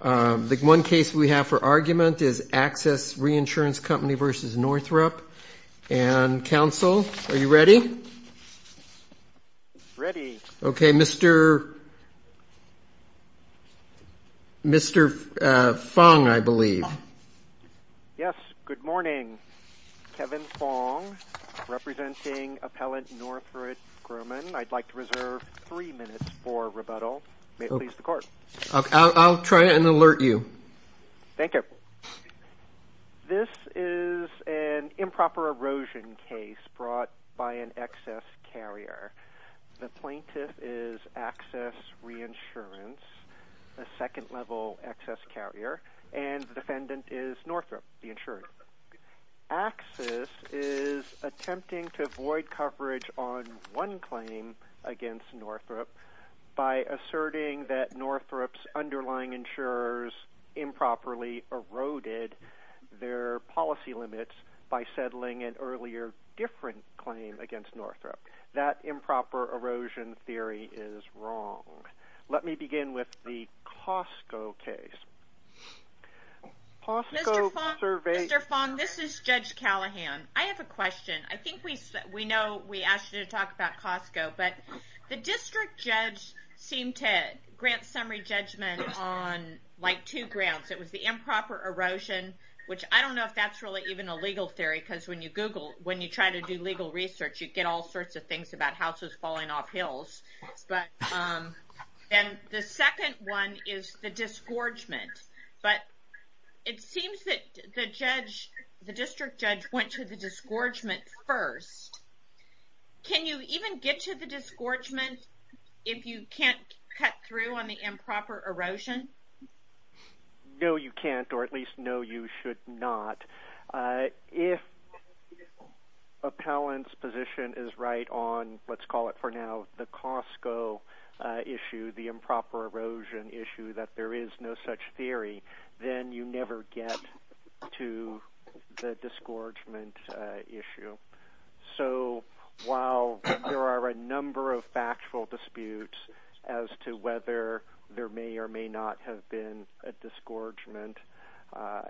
The one case we have for argument is Access Reinsurance Company v. Northrop. And, counsel, are you ready? Ready. Okay, Mr. Fong, I believe. Yes, good morning. Kevin Fong, representing appellant Northrop Grumman. I'd like to reserve three minutes for rebuttal. May it please the court. I'll try and alert you. Thank you. This is an improper erosion case brought by an excess carrier. The plaintiff is Access Reinsurance, a second-level excess carrier, and the defendant is Northrop, the insurer. Access is attempting to avoid coverage on one claim against Northrop by asserting that Northrop's underlying insurers improperly eroded their policy limits by settling an earlier different claim against Northrop. That improper erosion theory is wrong. Let me begin with the Costco case. Mr. Fong, this is Judge Callahan. I have a question. I think we know we asked you to talk about Costco, but the district judge seemed to grant summary judgment on, like, two grounds. It was the improper erosion, which I don't know if that's really even a legal theory, because when you Google, when you try to do legal research, you get all sorts of things about houses falling off hills. But then the second one is the disgorgement, but it seems that the judge, the district judge, went to the disgorgement first. Can you even get to the disgorgement if you can't cut through on the improper erosion? No, you can't, or at least no, you should not. If appellant's position is right on, let's call it for now, the Costco issue, the improper erosion issue, that there is no such theory, then you never get to the disgorgement issue. So while there are a number of factual disputes as to whether there may or may not have been a disgorgement,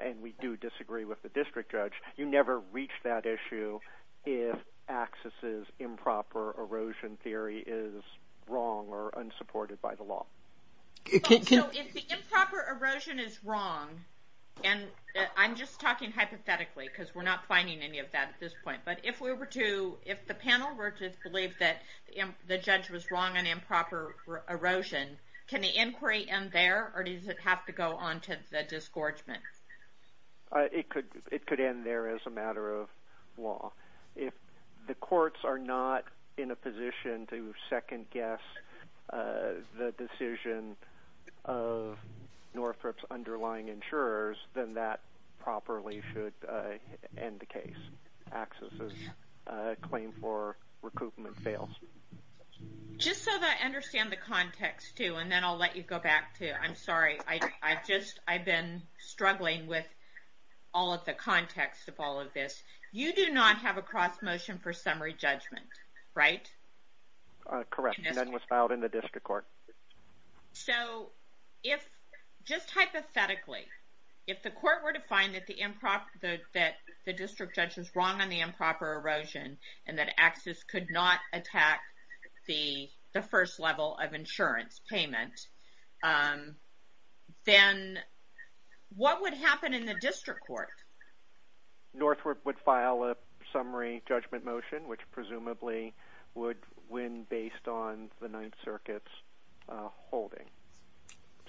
and we do disagree with the district judge, you never reach that issue if AXIS's improper erosion theory is wrong or unsupported by the law. So if the improper erosion is wrong, and I'm just talking hypothetically because we're not finding any of that at this point, but if the panel were to believe that the judge was wrong on improper erosion, can the inquiry end there, or does it have to go on to the disgorgement? It could end there as a matter of law. If the courts are not in a position to second-guess the decision of Northrop's underlying insurers, then that properly should end the case. AXIS's claim for recoupment fails. Just so that I understand the context, too, and then I'll let you go back to it. I'm sorry, I've been struggling with all of the context of all of this. You do not have a cross-motion for summary judgment, right? Correct. None was filed in the district court. So if, just hypothetically, if the court were to find that the district judge was wrong on the improper erosion and that AXIS could not attack the first level of insurance payment, then what would happen in the district court? Northrop would file a summary judgment motion, which presumably would win based on the Ninth Circuit's holding.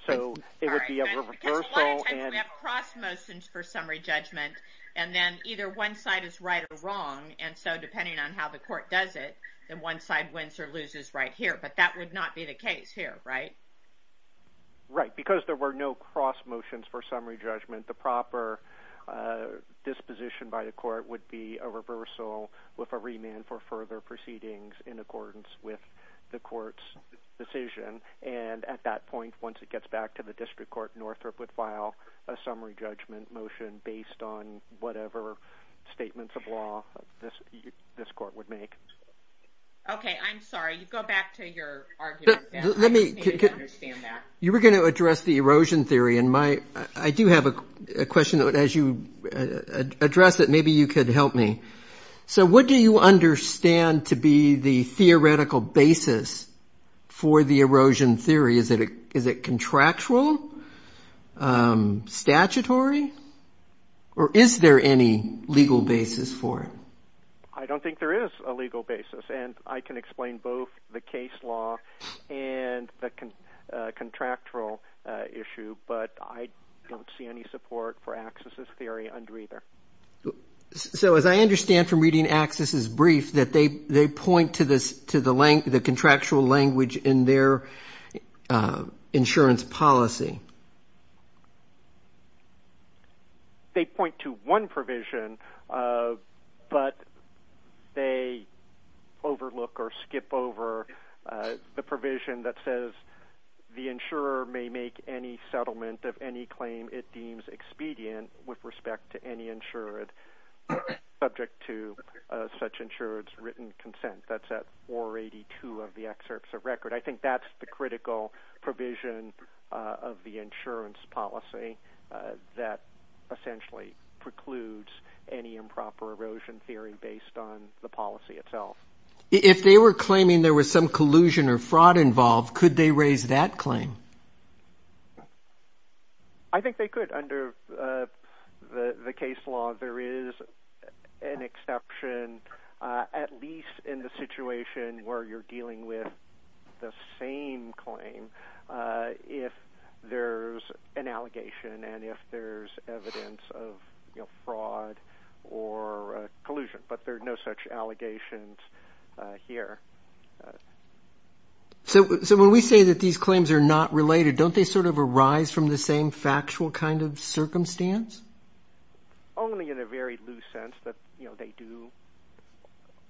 So it would be a reversal. We have cross-motions for summary judgment, and then either one side is right or wrong, and so depending on how the court does it, then one side wins or loses right here, but that would not be the case here, right? Right. Because there were no cross-motions for summary judgment, the proper disposition by the court would be a reversal with a remand for further proceedings in accordance with the court's decision. And at that point, once it gets back to the district court, Northrop would file a summary judgment motion based on whatever statements of law this court would make. Okay, I'm sorry. You go back to your argument. You were going to address the erosion theory, and I do have a question. As you address it, maybe you could help me. So what do you understand to be the theoretical basis for the erosion theory? Is it contractual? Statutory? Or is there any legal basis for it? I don't think there is a legal basis, and I can explain both the case law and the contractual issue, but I don't see any support for Axis's theory under either. So as I understand from reading Axis's brief, that they point to the contractual language in their insurance policy. They point to one provision, but they overlook or skip over the provision that says the insurer may make any settlement of any claim it deems expedient with respect to any insured subject to such insured's written consent. That's at 482 of the excerpts of record. I think that's the critical provision of the insurance policy that essentially precludes any improper erosion theory based on the policy itself. If they were claiming there was some collusion or fraud involved, could they raise that claim? I think they could. Under the case law, there is an exception, at least in the situation where you're dealing with the same claim, if there's an allegation and if there's evidence of fraud or collusion. But there are no such allegations here. So when we say that these claims are not related, don't they sort of arise from the same factual kind of circumstance? Only in a very loose sense that they do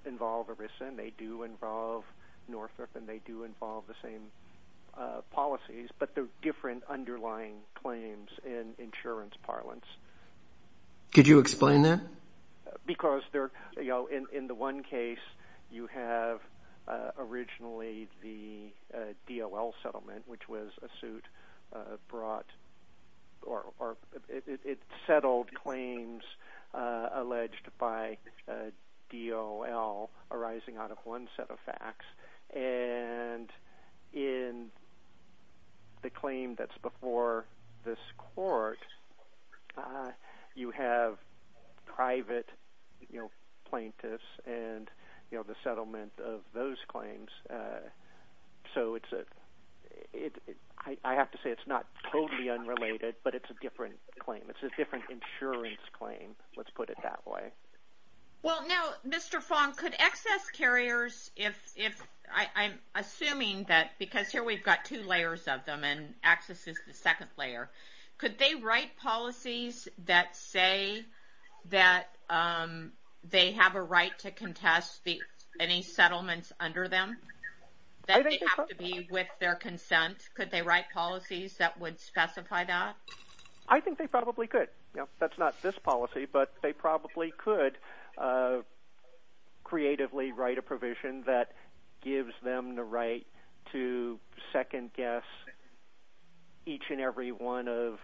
involve ERISA and they do involve Northrop and they do involve the same policies, but they're different underlying claims in insurance parlance. Could you explain that? Because in the one case, you have originally the DOL settlement, which was a suit. It settled claims alleged by DOL arising out of one set of facts. And in the claim that's before this court, you have private plaintiffs and the settlement of those claims. So I have to say it's not totally unrelated, but it's a different claim. It's a different insurance claim. Let's put it that way. Well now, Mr. Fong, could excess carriers, I'm assuming that because here we've got two layers of them and access is the second layer, could they write policies that say that they have a right to contest any settlements under them? That they have to be with their consent? Could they write policies that would specify that? I think they probably could. That's not this policy, but they probably could creatively write a provision that gives them the right to second-guess each and every one of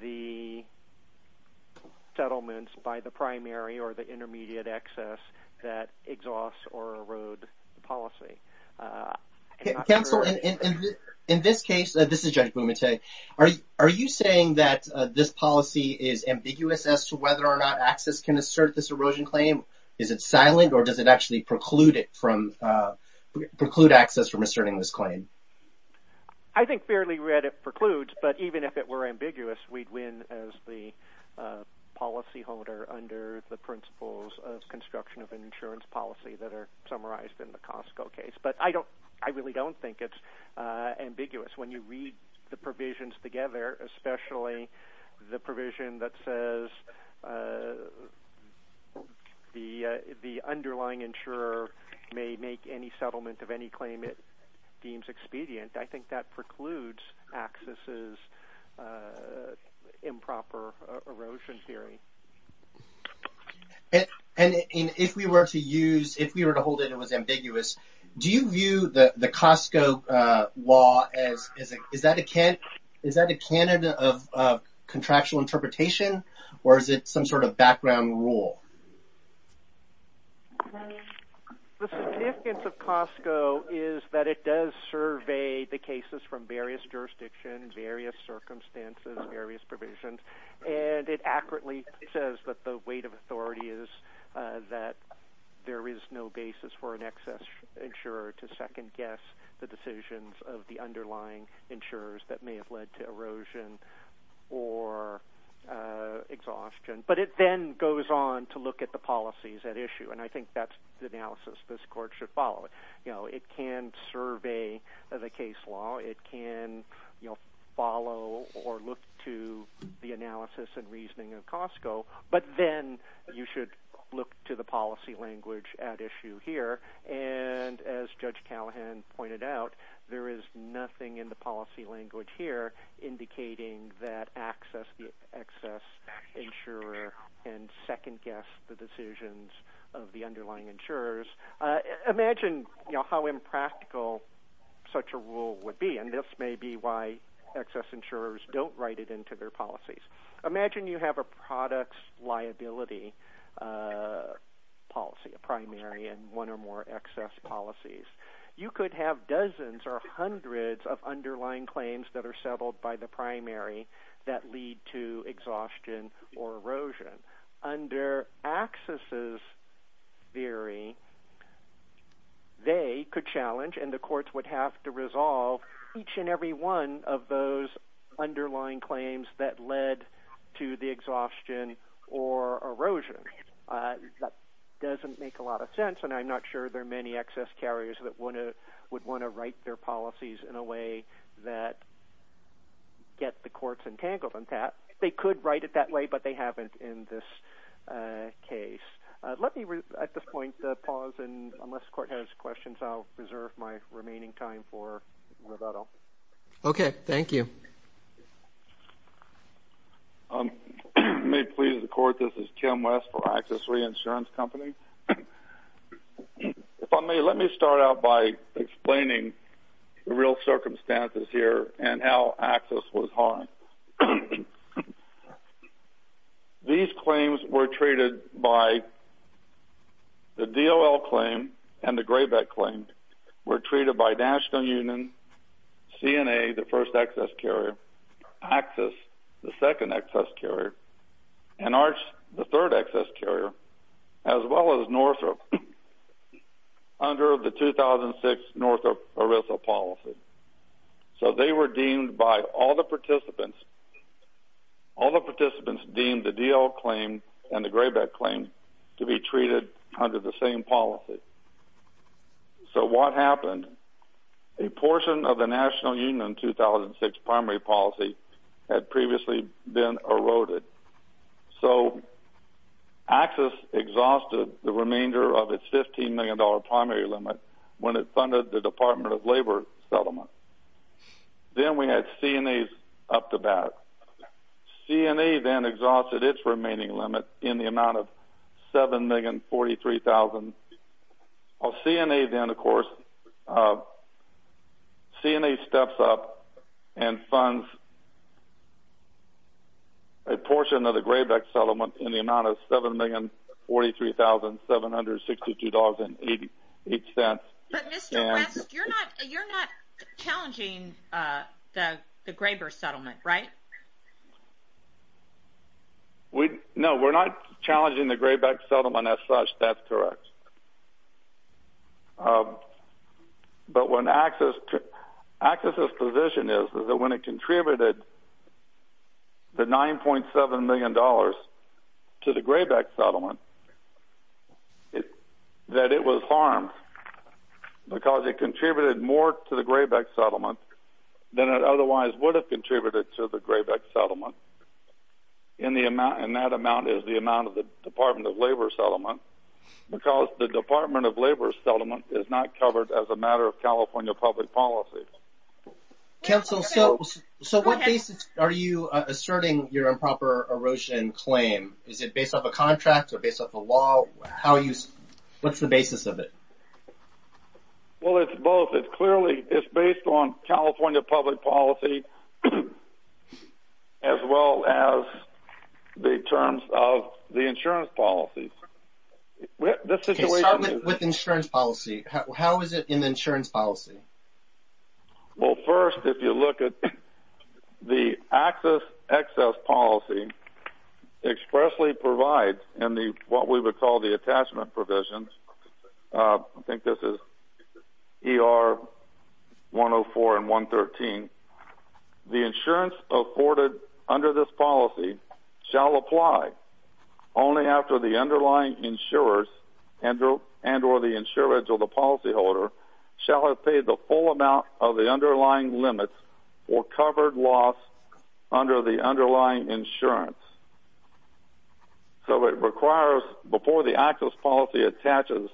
the settlements by the primary or the intermediate excess that exhausts or erodes the policy. Counsel, in this case, this is Judge Bumate, are you saying that this policy is ambiguous as to whether or not access can assert this erosion claim? Is it silent or does it actually preclude access from asserting this claim? I think fairly read it precludes, but even if it were ambiguous, we'd win as the policy holder under the principles of construction of an insurance policy that are summarized in the Costco case. But I really don't think it's ambiguous. When you read the provisions together, especially the provision that says the underlying insurer may make any settlement of any claim it deems expedient, I think that precludes access's improper erosion theory. And if we were to use, if we were to hold it as ambiguous, do you view the Costco law as, is that a candidate of contractual interpretation or is it some sort of background rule? The significance of Costco is that it does survey the cases from various jurisdictions, various circumstances, various provisions, and it accurately says that the weight of authority is that there is no basis for an excess insurer to second-guess the decisions of the underlying insurers that may have led to erosion or exhaustion. But it then goes on to look at the policies at issue. And I think that's the analysis this court should follow. It can survey the case law. It can follow or look to the analysis and reasoning of Costco. But then you should look to the policy language at issue here. And as Judge Callahan pointed out, there is nothing in the policy language here indicating that access, the excess insurer can second-guess the decisions of the underlying insurers. Imagine, you know, how impractical such a rule would be. And this may be why excess insurers don't write it into their policies. Imagine you have a products liability policy, a primary and one or more excess policies. You could have dozens or hundreds of underlying claims that are settled by the primary that lead to exhaustion or erosion. Under access's theory, they could challenge and the courts would have to resolve each and every one of those underlying claims that led to the exhaustion or erosion. That doesn't make a lot of sense, and I'm not sure there are many excess carriers that would want to write their policies in a way that get the courts entangled in that. They could write it that way, but they haven't in this case. Let me at this point pause, and unless the court has questions, I'll reserve my remaining time for Roberto. Okay. Thank you. If I may please the court, this is Tim West for Access Reinsurance Company. If I may, let me start out by explaining the real circumstances here and how access was harmed. These claims were treated by the DOL claim and the GRABEC claim were treated by National Union, CNA, the first excess carrier, Access, the second excess carrier, and Arch, the third excess carrier, as well as Northrop under the 2006 Northrop Arisa policy. So they were deemed by all the participants, all the participants deemed the DOL claim and the GRABEC claim to be treated under the same policy. So what happened? A portion of the National Union 2006 primary policy had previously been eroded. So Access exhausted the remainder of its $15 million primary limit when it funded the Department of Labor settlement. Then we had CNA's up to bat. CNA then exhausted its remaining limit in the amount of $7,043,000. CNA then, of course, CNA steps up and funds a portion of the GRABEC settlement in the amount of $7,043,762.88. But Mr. West, you're not challenging the GRABEC settlement, right? No, we're not challenging the GRABEC settlement as such, that's correct. But when Access, Access's position is that when it contributed the $9.7 million to the GRABEC settlement, that it was harmed because it contributed more to the GRABEC settlement than it otherwise would have contributed to the GRABEC settlement. And that amount is the amount of the Department of Labor settlement because the Department of Labor settlement is not covered as a matter of California public policy. Counsel, so what basis are you asserting your improper erosion claim? Is it based off a contract or based off a law? What's the basis of it? Well, it's both. It's clearly, it's based on California public policy as well as the terms of the insurance policy. Okay, start with insurance policy. How is it in the insurance policy? Well, first, if you look at the Access, Access policy expressly provides in what we would call the attachment provisions, I think this is ER 104 and 113, the insurance afforded under this policy shall apply only after the underlying insurers and or the insurance of the policyholder shall have paid the full amount of the underlying limits for covered loss under the underlying insurance. So it requires, before the Access policy attaches,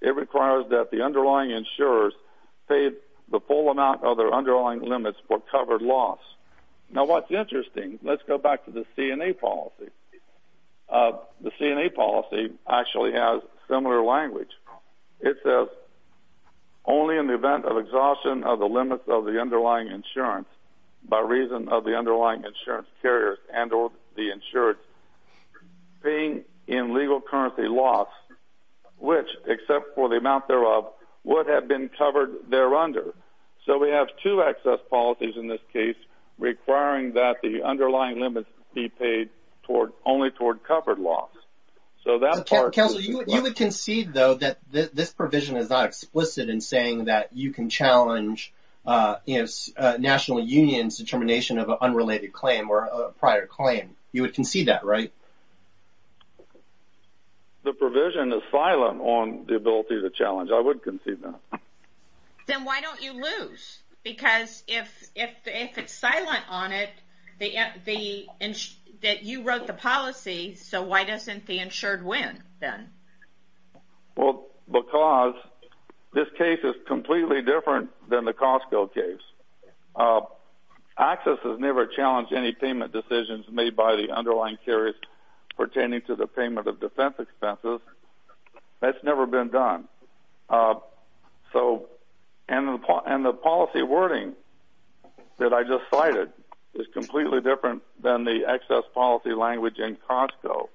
it requires that the underlying insurers pay the full amount of their underlying limits for covered loss. Now what's interesting, let's go back to the CNA policy. The CNA policy actually has similar language. It says, only in the event of exhaustion of the limits of the underlying insurance by reason of the underlying insurance carriers and or the insurance, paying in legal currency loss, which, except for the amount thereof, would have been covered thereunder. So we have two Access policies in this case requiring that the underlying limits be paid only toward covered loss. Counsel, you would concede, though, that this provision is not explicit in saying that you can challenge National Union's determination of an unrelated claim or a prior claim. You would concede that, right? The provision is silent on the ability to challenge. I would concede that. Then why don't you lose? Because if it's silent on it, that you wrote the policy, so why doesn't the insured win then? Well, because this case is completely different than the Costco case. Access has never challenged any payment decisions made by the underlying carriers pertaining to the payment of defense expenses. That's never been done. And the policy wording that I just cited is completely different than the Access policy language in Costco.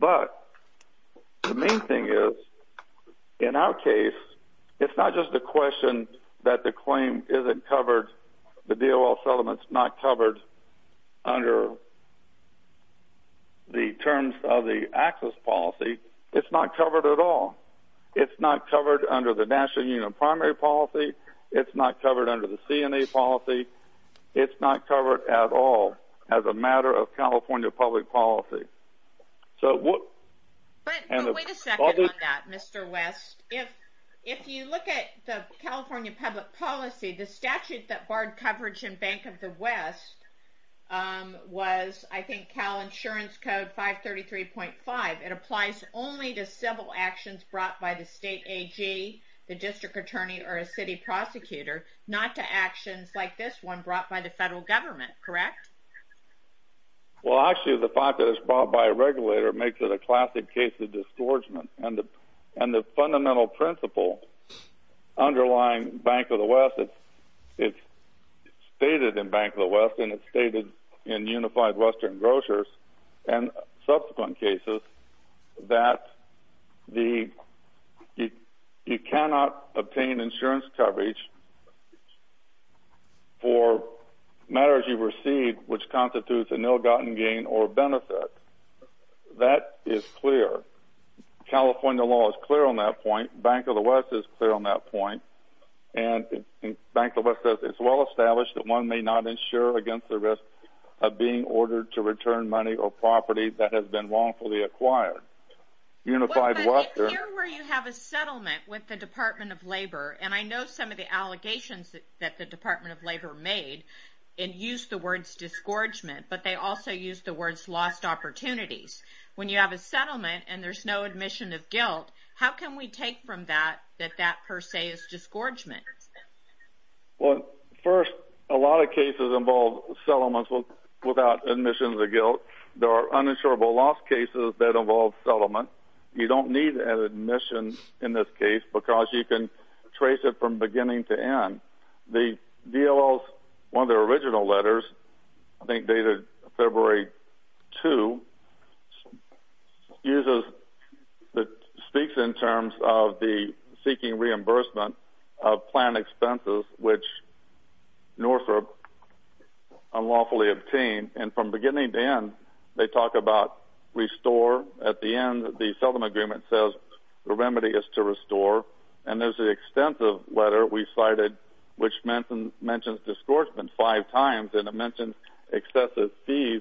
But the main thing is, in our case, it's not just a question that the claim isn't covered, the DOL settlement's not covered under the terms of the Access policy. It's not covered at all. It's not covered under the National Union primary policy. It's not covered under the CNA policy. It's not covered at all as a matter of California public policy. But wait a second on that, Mr. West. If you look at the California public policy, the statute that barred coverage in Bank of the West was, I think, Cal Insurance Code 533.5. It applies only to civil actions brought by the state AG, the district attorney, or a city prosecutor, not to actions like this one brought by the federal government, correct? Well, actually, the fact that it's brought by a regulator makes it a classic case of disgorgement. And the fundamental principle underlying Bank of the West, it's stated in Bank of the West and it's stated in Unified Western Grocers and subsequent cases that you cannot obtain insurance coverage for matters you've received which constitutes an ill-gotten gain or benefit. That is clear. California law is clear on that point. Bank of the West is clear on that point. And Bank of the West says it's well established that one may not insure against the risk of being ordered to return money or property that has been wrongfully acquired. Well, but in here where you have a settlement with the Department of Labor, and I know some of the allegations that the Department of Labor made, it used the words disgorgement, but they also used the words lost opportunities. When you have a settlement and there's no admission of guilt, how can we take from that that that per se is disgorgement? Well, first, a lot of cases involve settlements without admissions of guilt. There are uninsurable loss cases that involve settlement. You don't need an admission in this case because you can trace it from beginning to end. The DLO's, one of their original letters, I think dated February 2, speaks in terms of the seeking reimbursement of planned expenses which Northrop unlawfully obtained. And from beginning to end, they talk about restore. At the end, the settlement agreement says the remedy is to restore. And there's an extensive letter we cited which mentions disgorgement five times and it mentions excessive fees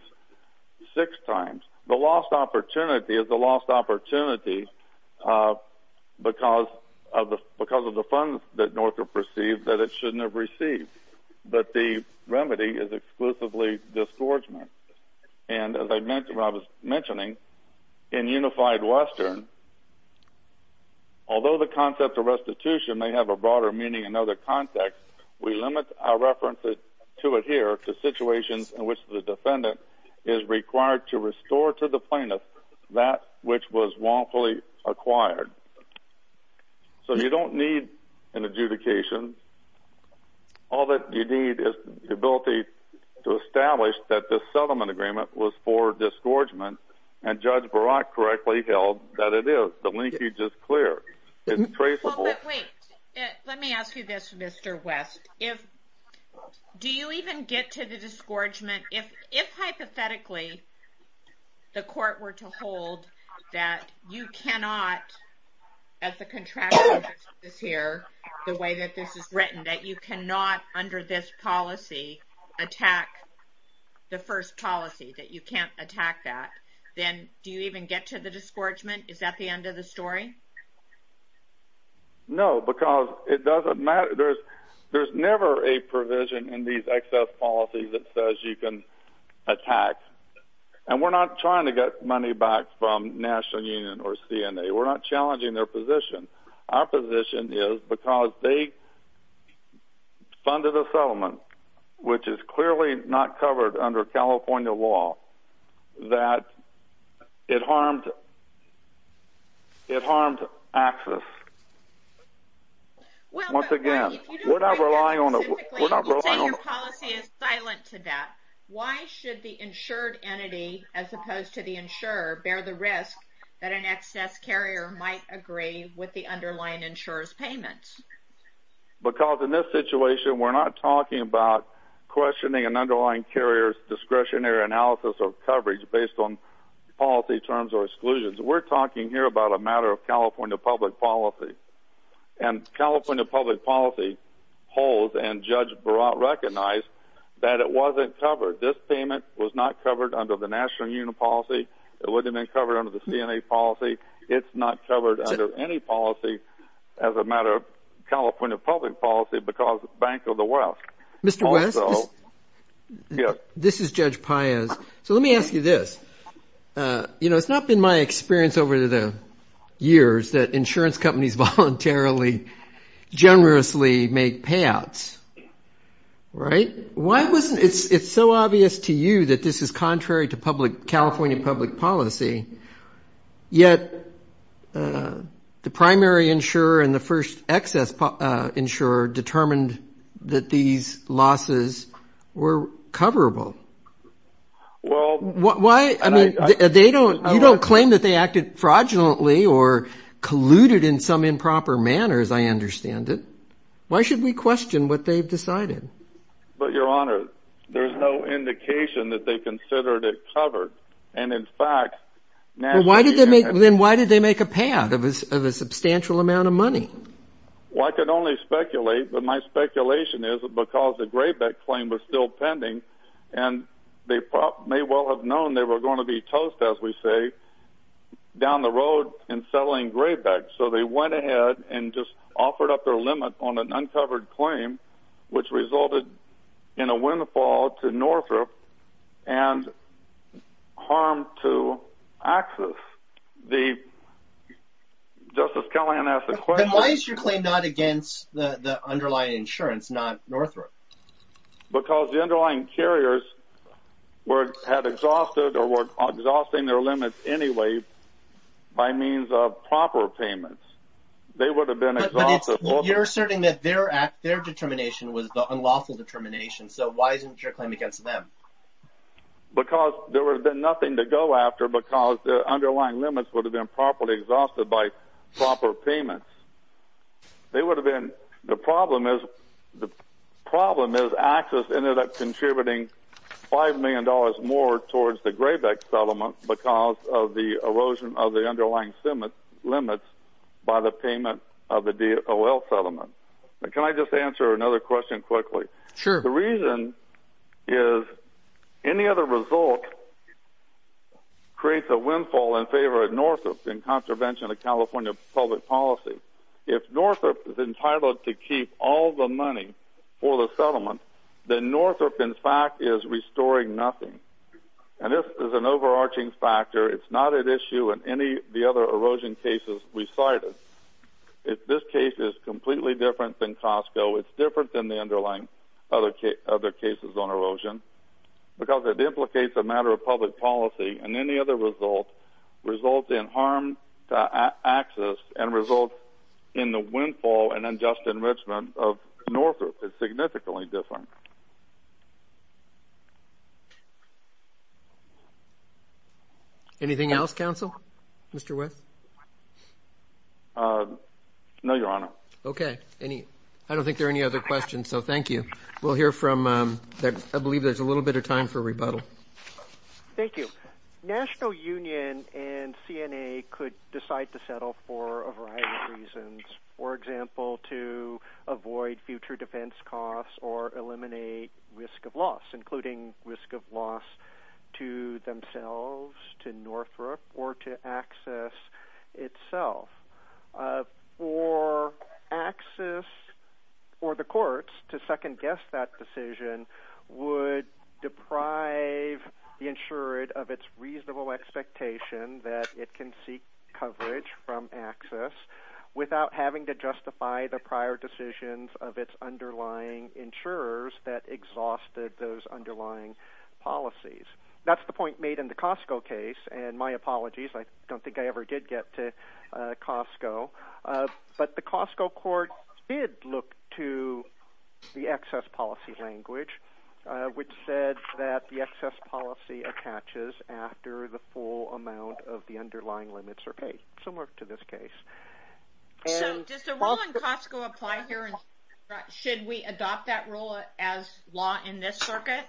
six times. The lost opportunity is the lost opportunity because of the funds that Northrop received that it shouldn't have received. But the remedy is exclusively disgorgement. And as I was mentioning, in Unified Western, although the concept of restitution may have a broader meaning in other contexts, we limit our references to adhere to situations in which the defendant is required to restore to the plaintiff that which was wrongfully acquired. So you don't need an adjudication. All that you need is the ability to establish that the settlement agreement was for disgorgement and Judge Barak correctly held that it is. The linkage is clear. But wait, let me ask you this, Mr. West. Do you even get to the disgorgement? If hypothetically the court were to hold that you cannot, as the contract says here, the way that this is written, that you cannot under this policy attack the first policy, that you can't attack that, then do you even get to the disgorgement? Is that the end of the story? No, because it doesn't matter. There's never a provision in these excess policies that says you can attack. And we're not trying to get money back from National Union or CNA. We're not challenging their position. Our position is because they funded a settlement, which is clearly not covered under California law, that it harmed access. Once again, we're not relying on it. But hypothetically, you say your policy is silent to that. Why should the insured entity, as opposed to the insurer, bear the risk that an excess carrier might agree with the underlying insurer's payment? Because in this situation, we're not talking about questioning an underlying carrier's discretionary analysis of coverage based on policy terms or exclusions. We're talking here about a matter of California public policy. And California public policy holds, and Judge Barat recognized, that it wasn't covered. This payment was not covered under the National Union policy. It wouldn't have been covered under the CNA policy. It's not covered under any policy as a matter of California public policy because Bank of the West. Mr. West, this is Judge Paez. So let me ask you this. You know, it's not been my experience over the years that insurance companies voluntarily, generously make payouts, right? It's so obvious to you that this is contrary to California public policy, yet the primary insurer and the first excess insurer determined that these losses were coverable. Well, I mean, you don't claim that they acted fraudulently or colluded in some improper manners, I understand it. Why should we question what they've decided? Well, Your Honor, there's no indication that they considered it covered. And in fact, National Union… Then why did they make a payout of a substantial amount of money? Well, I could only speculate, but my speculation is because the Greybeck claim was still pending, and they may well have known they were going to be toast, as we say, down the road in settling Greybeck. So they went ahead and just offered up their limit on an uncovered claim, which resulted in a windfall to Northrop and harm to access. The… Justice Kellyanne asked the question… Then why is your claim not against the underlying insurance, not Northrop? Because the underlying carriers had exhausted or were exhausting their limits anyway by means of proper payments. They would have been exhausted… But you're asserting that their determination was the unlawful determination, so why isn't your claim against them? Because there would have been nothing to go after because the underlying limits would have been properly exhausted by proper payments. They would have been… The problem is… The problem is Access ended up contributing $5 million more towards the Greybeck settlement because of the erosion of the underlying limits by the payment of the DOL settlement. Can I just answer another question quickly? Sure. The reason is any other result creates a windfall in favor of Northrop in contravention of California public policy. If Northrop is entitled to keep all the money for the settlement, then Northrop, in fact, is restoring nothing. And this is an overarching factor. It's not at issue in any of the other erosion cases we cited. If this case is completely different than Costco, it's different than the underlying other cases on erosion because it implicates a matter of public policy. And any other result results in harm to Access and results in the windfall and unjust enrichment of Northrop. It's significantly different. Anything else, counsel? Mr. West? No, Your Honor. Okay. I don't think there are any other questions, so thank you. We'll hear from… I believe there's a little bit of time for rebuttal. Thank you. National Union and CNA could decide to settle for a variety of reasons. For example, to avoid future defense costs or eliminate risk of loss, including risk of loss to themselves, to Northrop, or to Access itself. Or Access or the courts to second-guess that decision would deprive the insured of its reasonable expectation that it can seek coverage from Access without having to justify the prior decisions of its underlying insurers that exhausted those underlying policies. That's the point made in the Costco case, and my apologies. I don't think I ever did get to Costco. But the Costco court did look to the Access policy language, which said that the Access policy attaches after the full amount of the underlying limits are paid, similar to this case. So does the rule in Costco apply here? Should we adopt that rule as law in this circuit?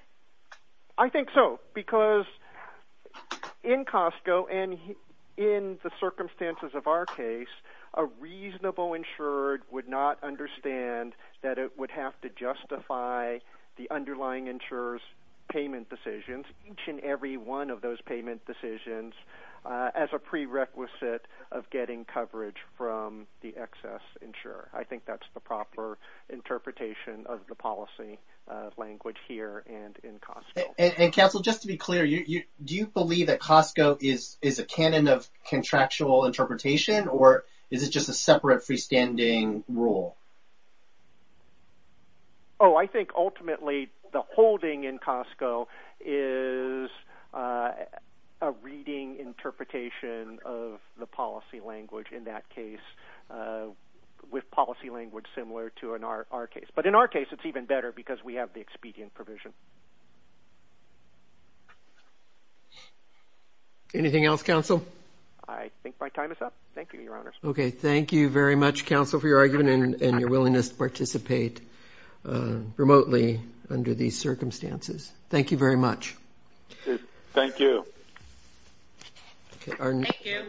I think so, because in Costco and in the circumstances of our case, a reasonable insured would not understand that it would have to justify the underlying insurer's payment decisions, each and every one of those payment decisions, as a prerequisite of getting coverage from the Access insurer. I think that's the proper interpretation of the policy language here and in Costco. And Counsel, just to be clear, do you believe that Costco is a canon of contractual interpretation, or is it just a separate freestanding rule? Oh, I think ultimately the holding in Costco is a reading interpretation of the policy language in that case, with policy language similar to our case. But in our case, it's even better, because we have the expedient provision. Anything else, Counsel? I think my time is up. Thank you, Your Honors. Okay. Thank you very much, Counsel, for your argument and your willingness to participate remotely under these circumstances. Thank you very much. Thank you.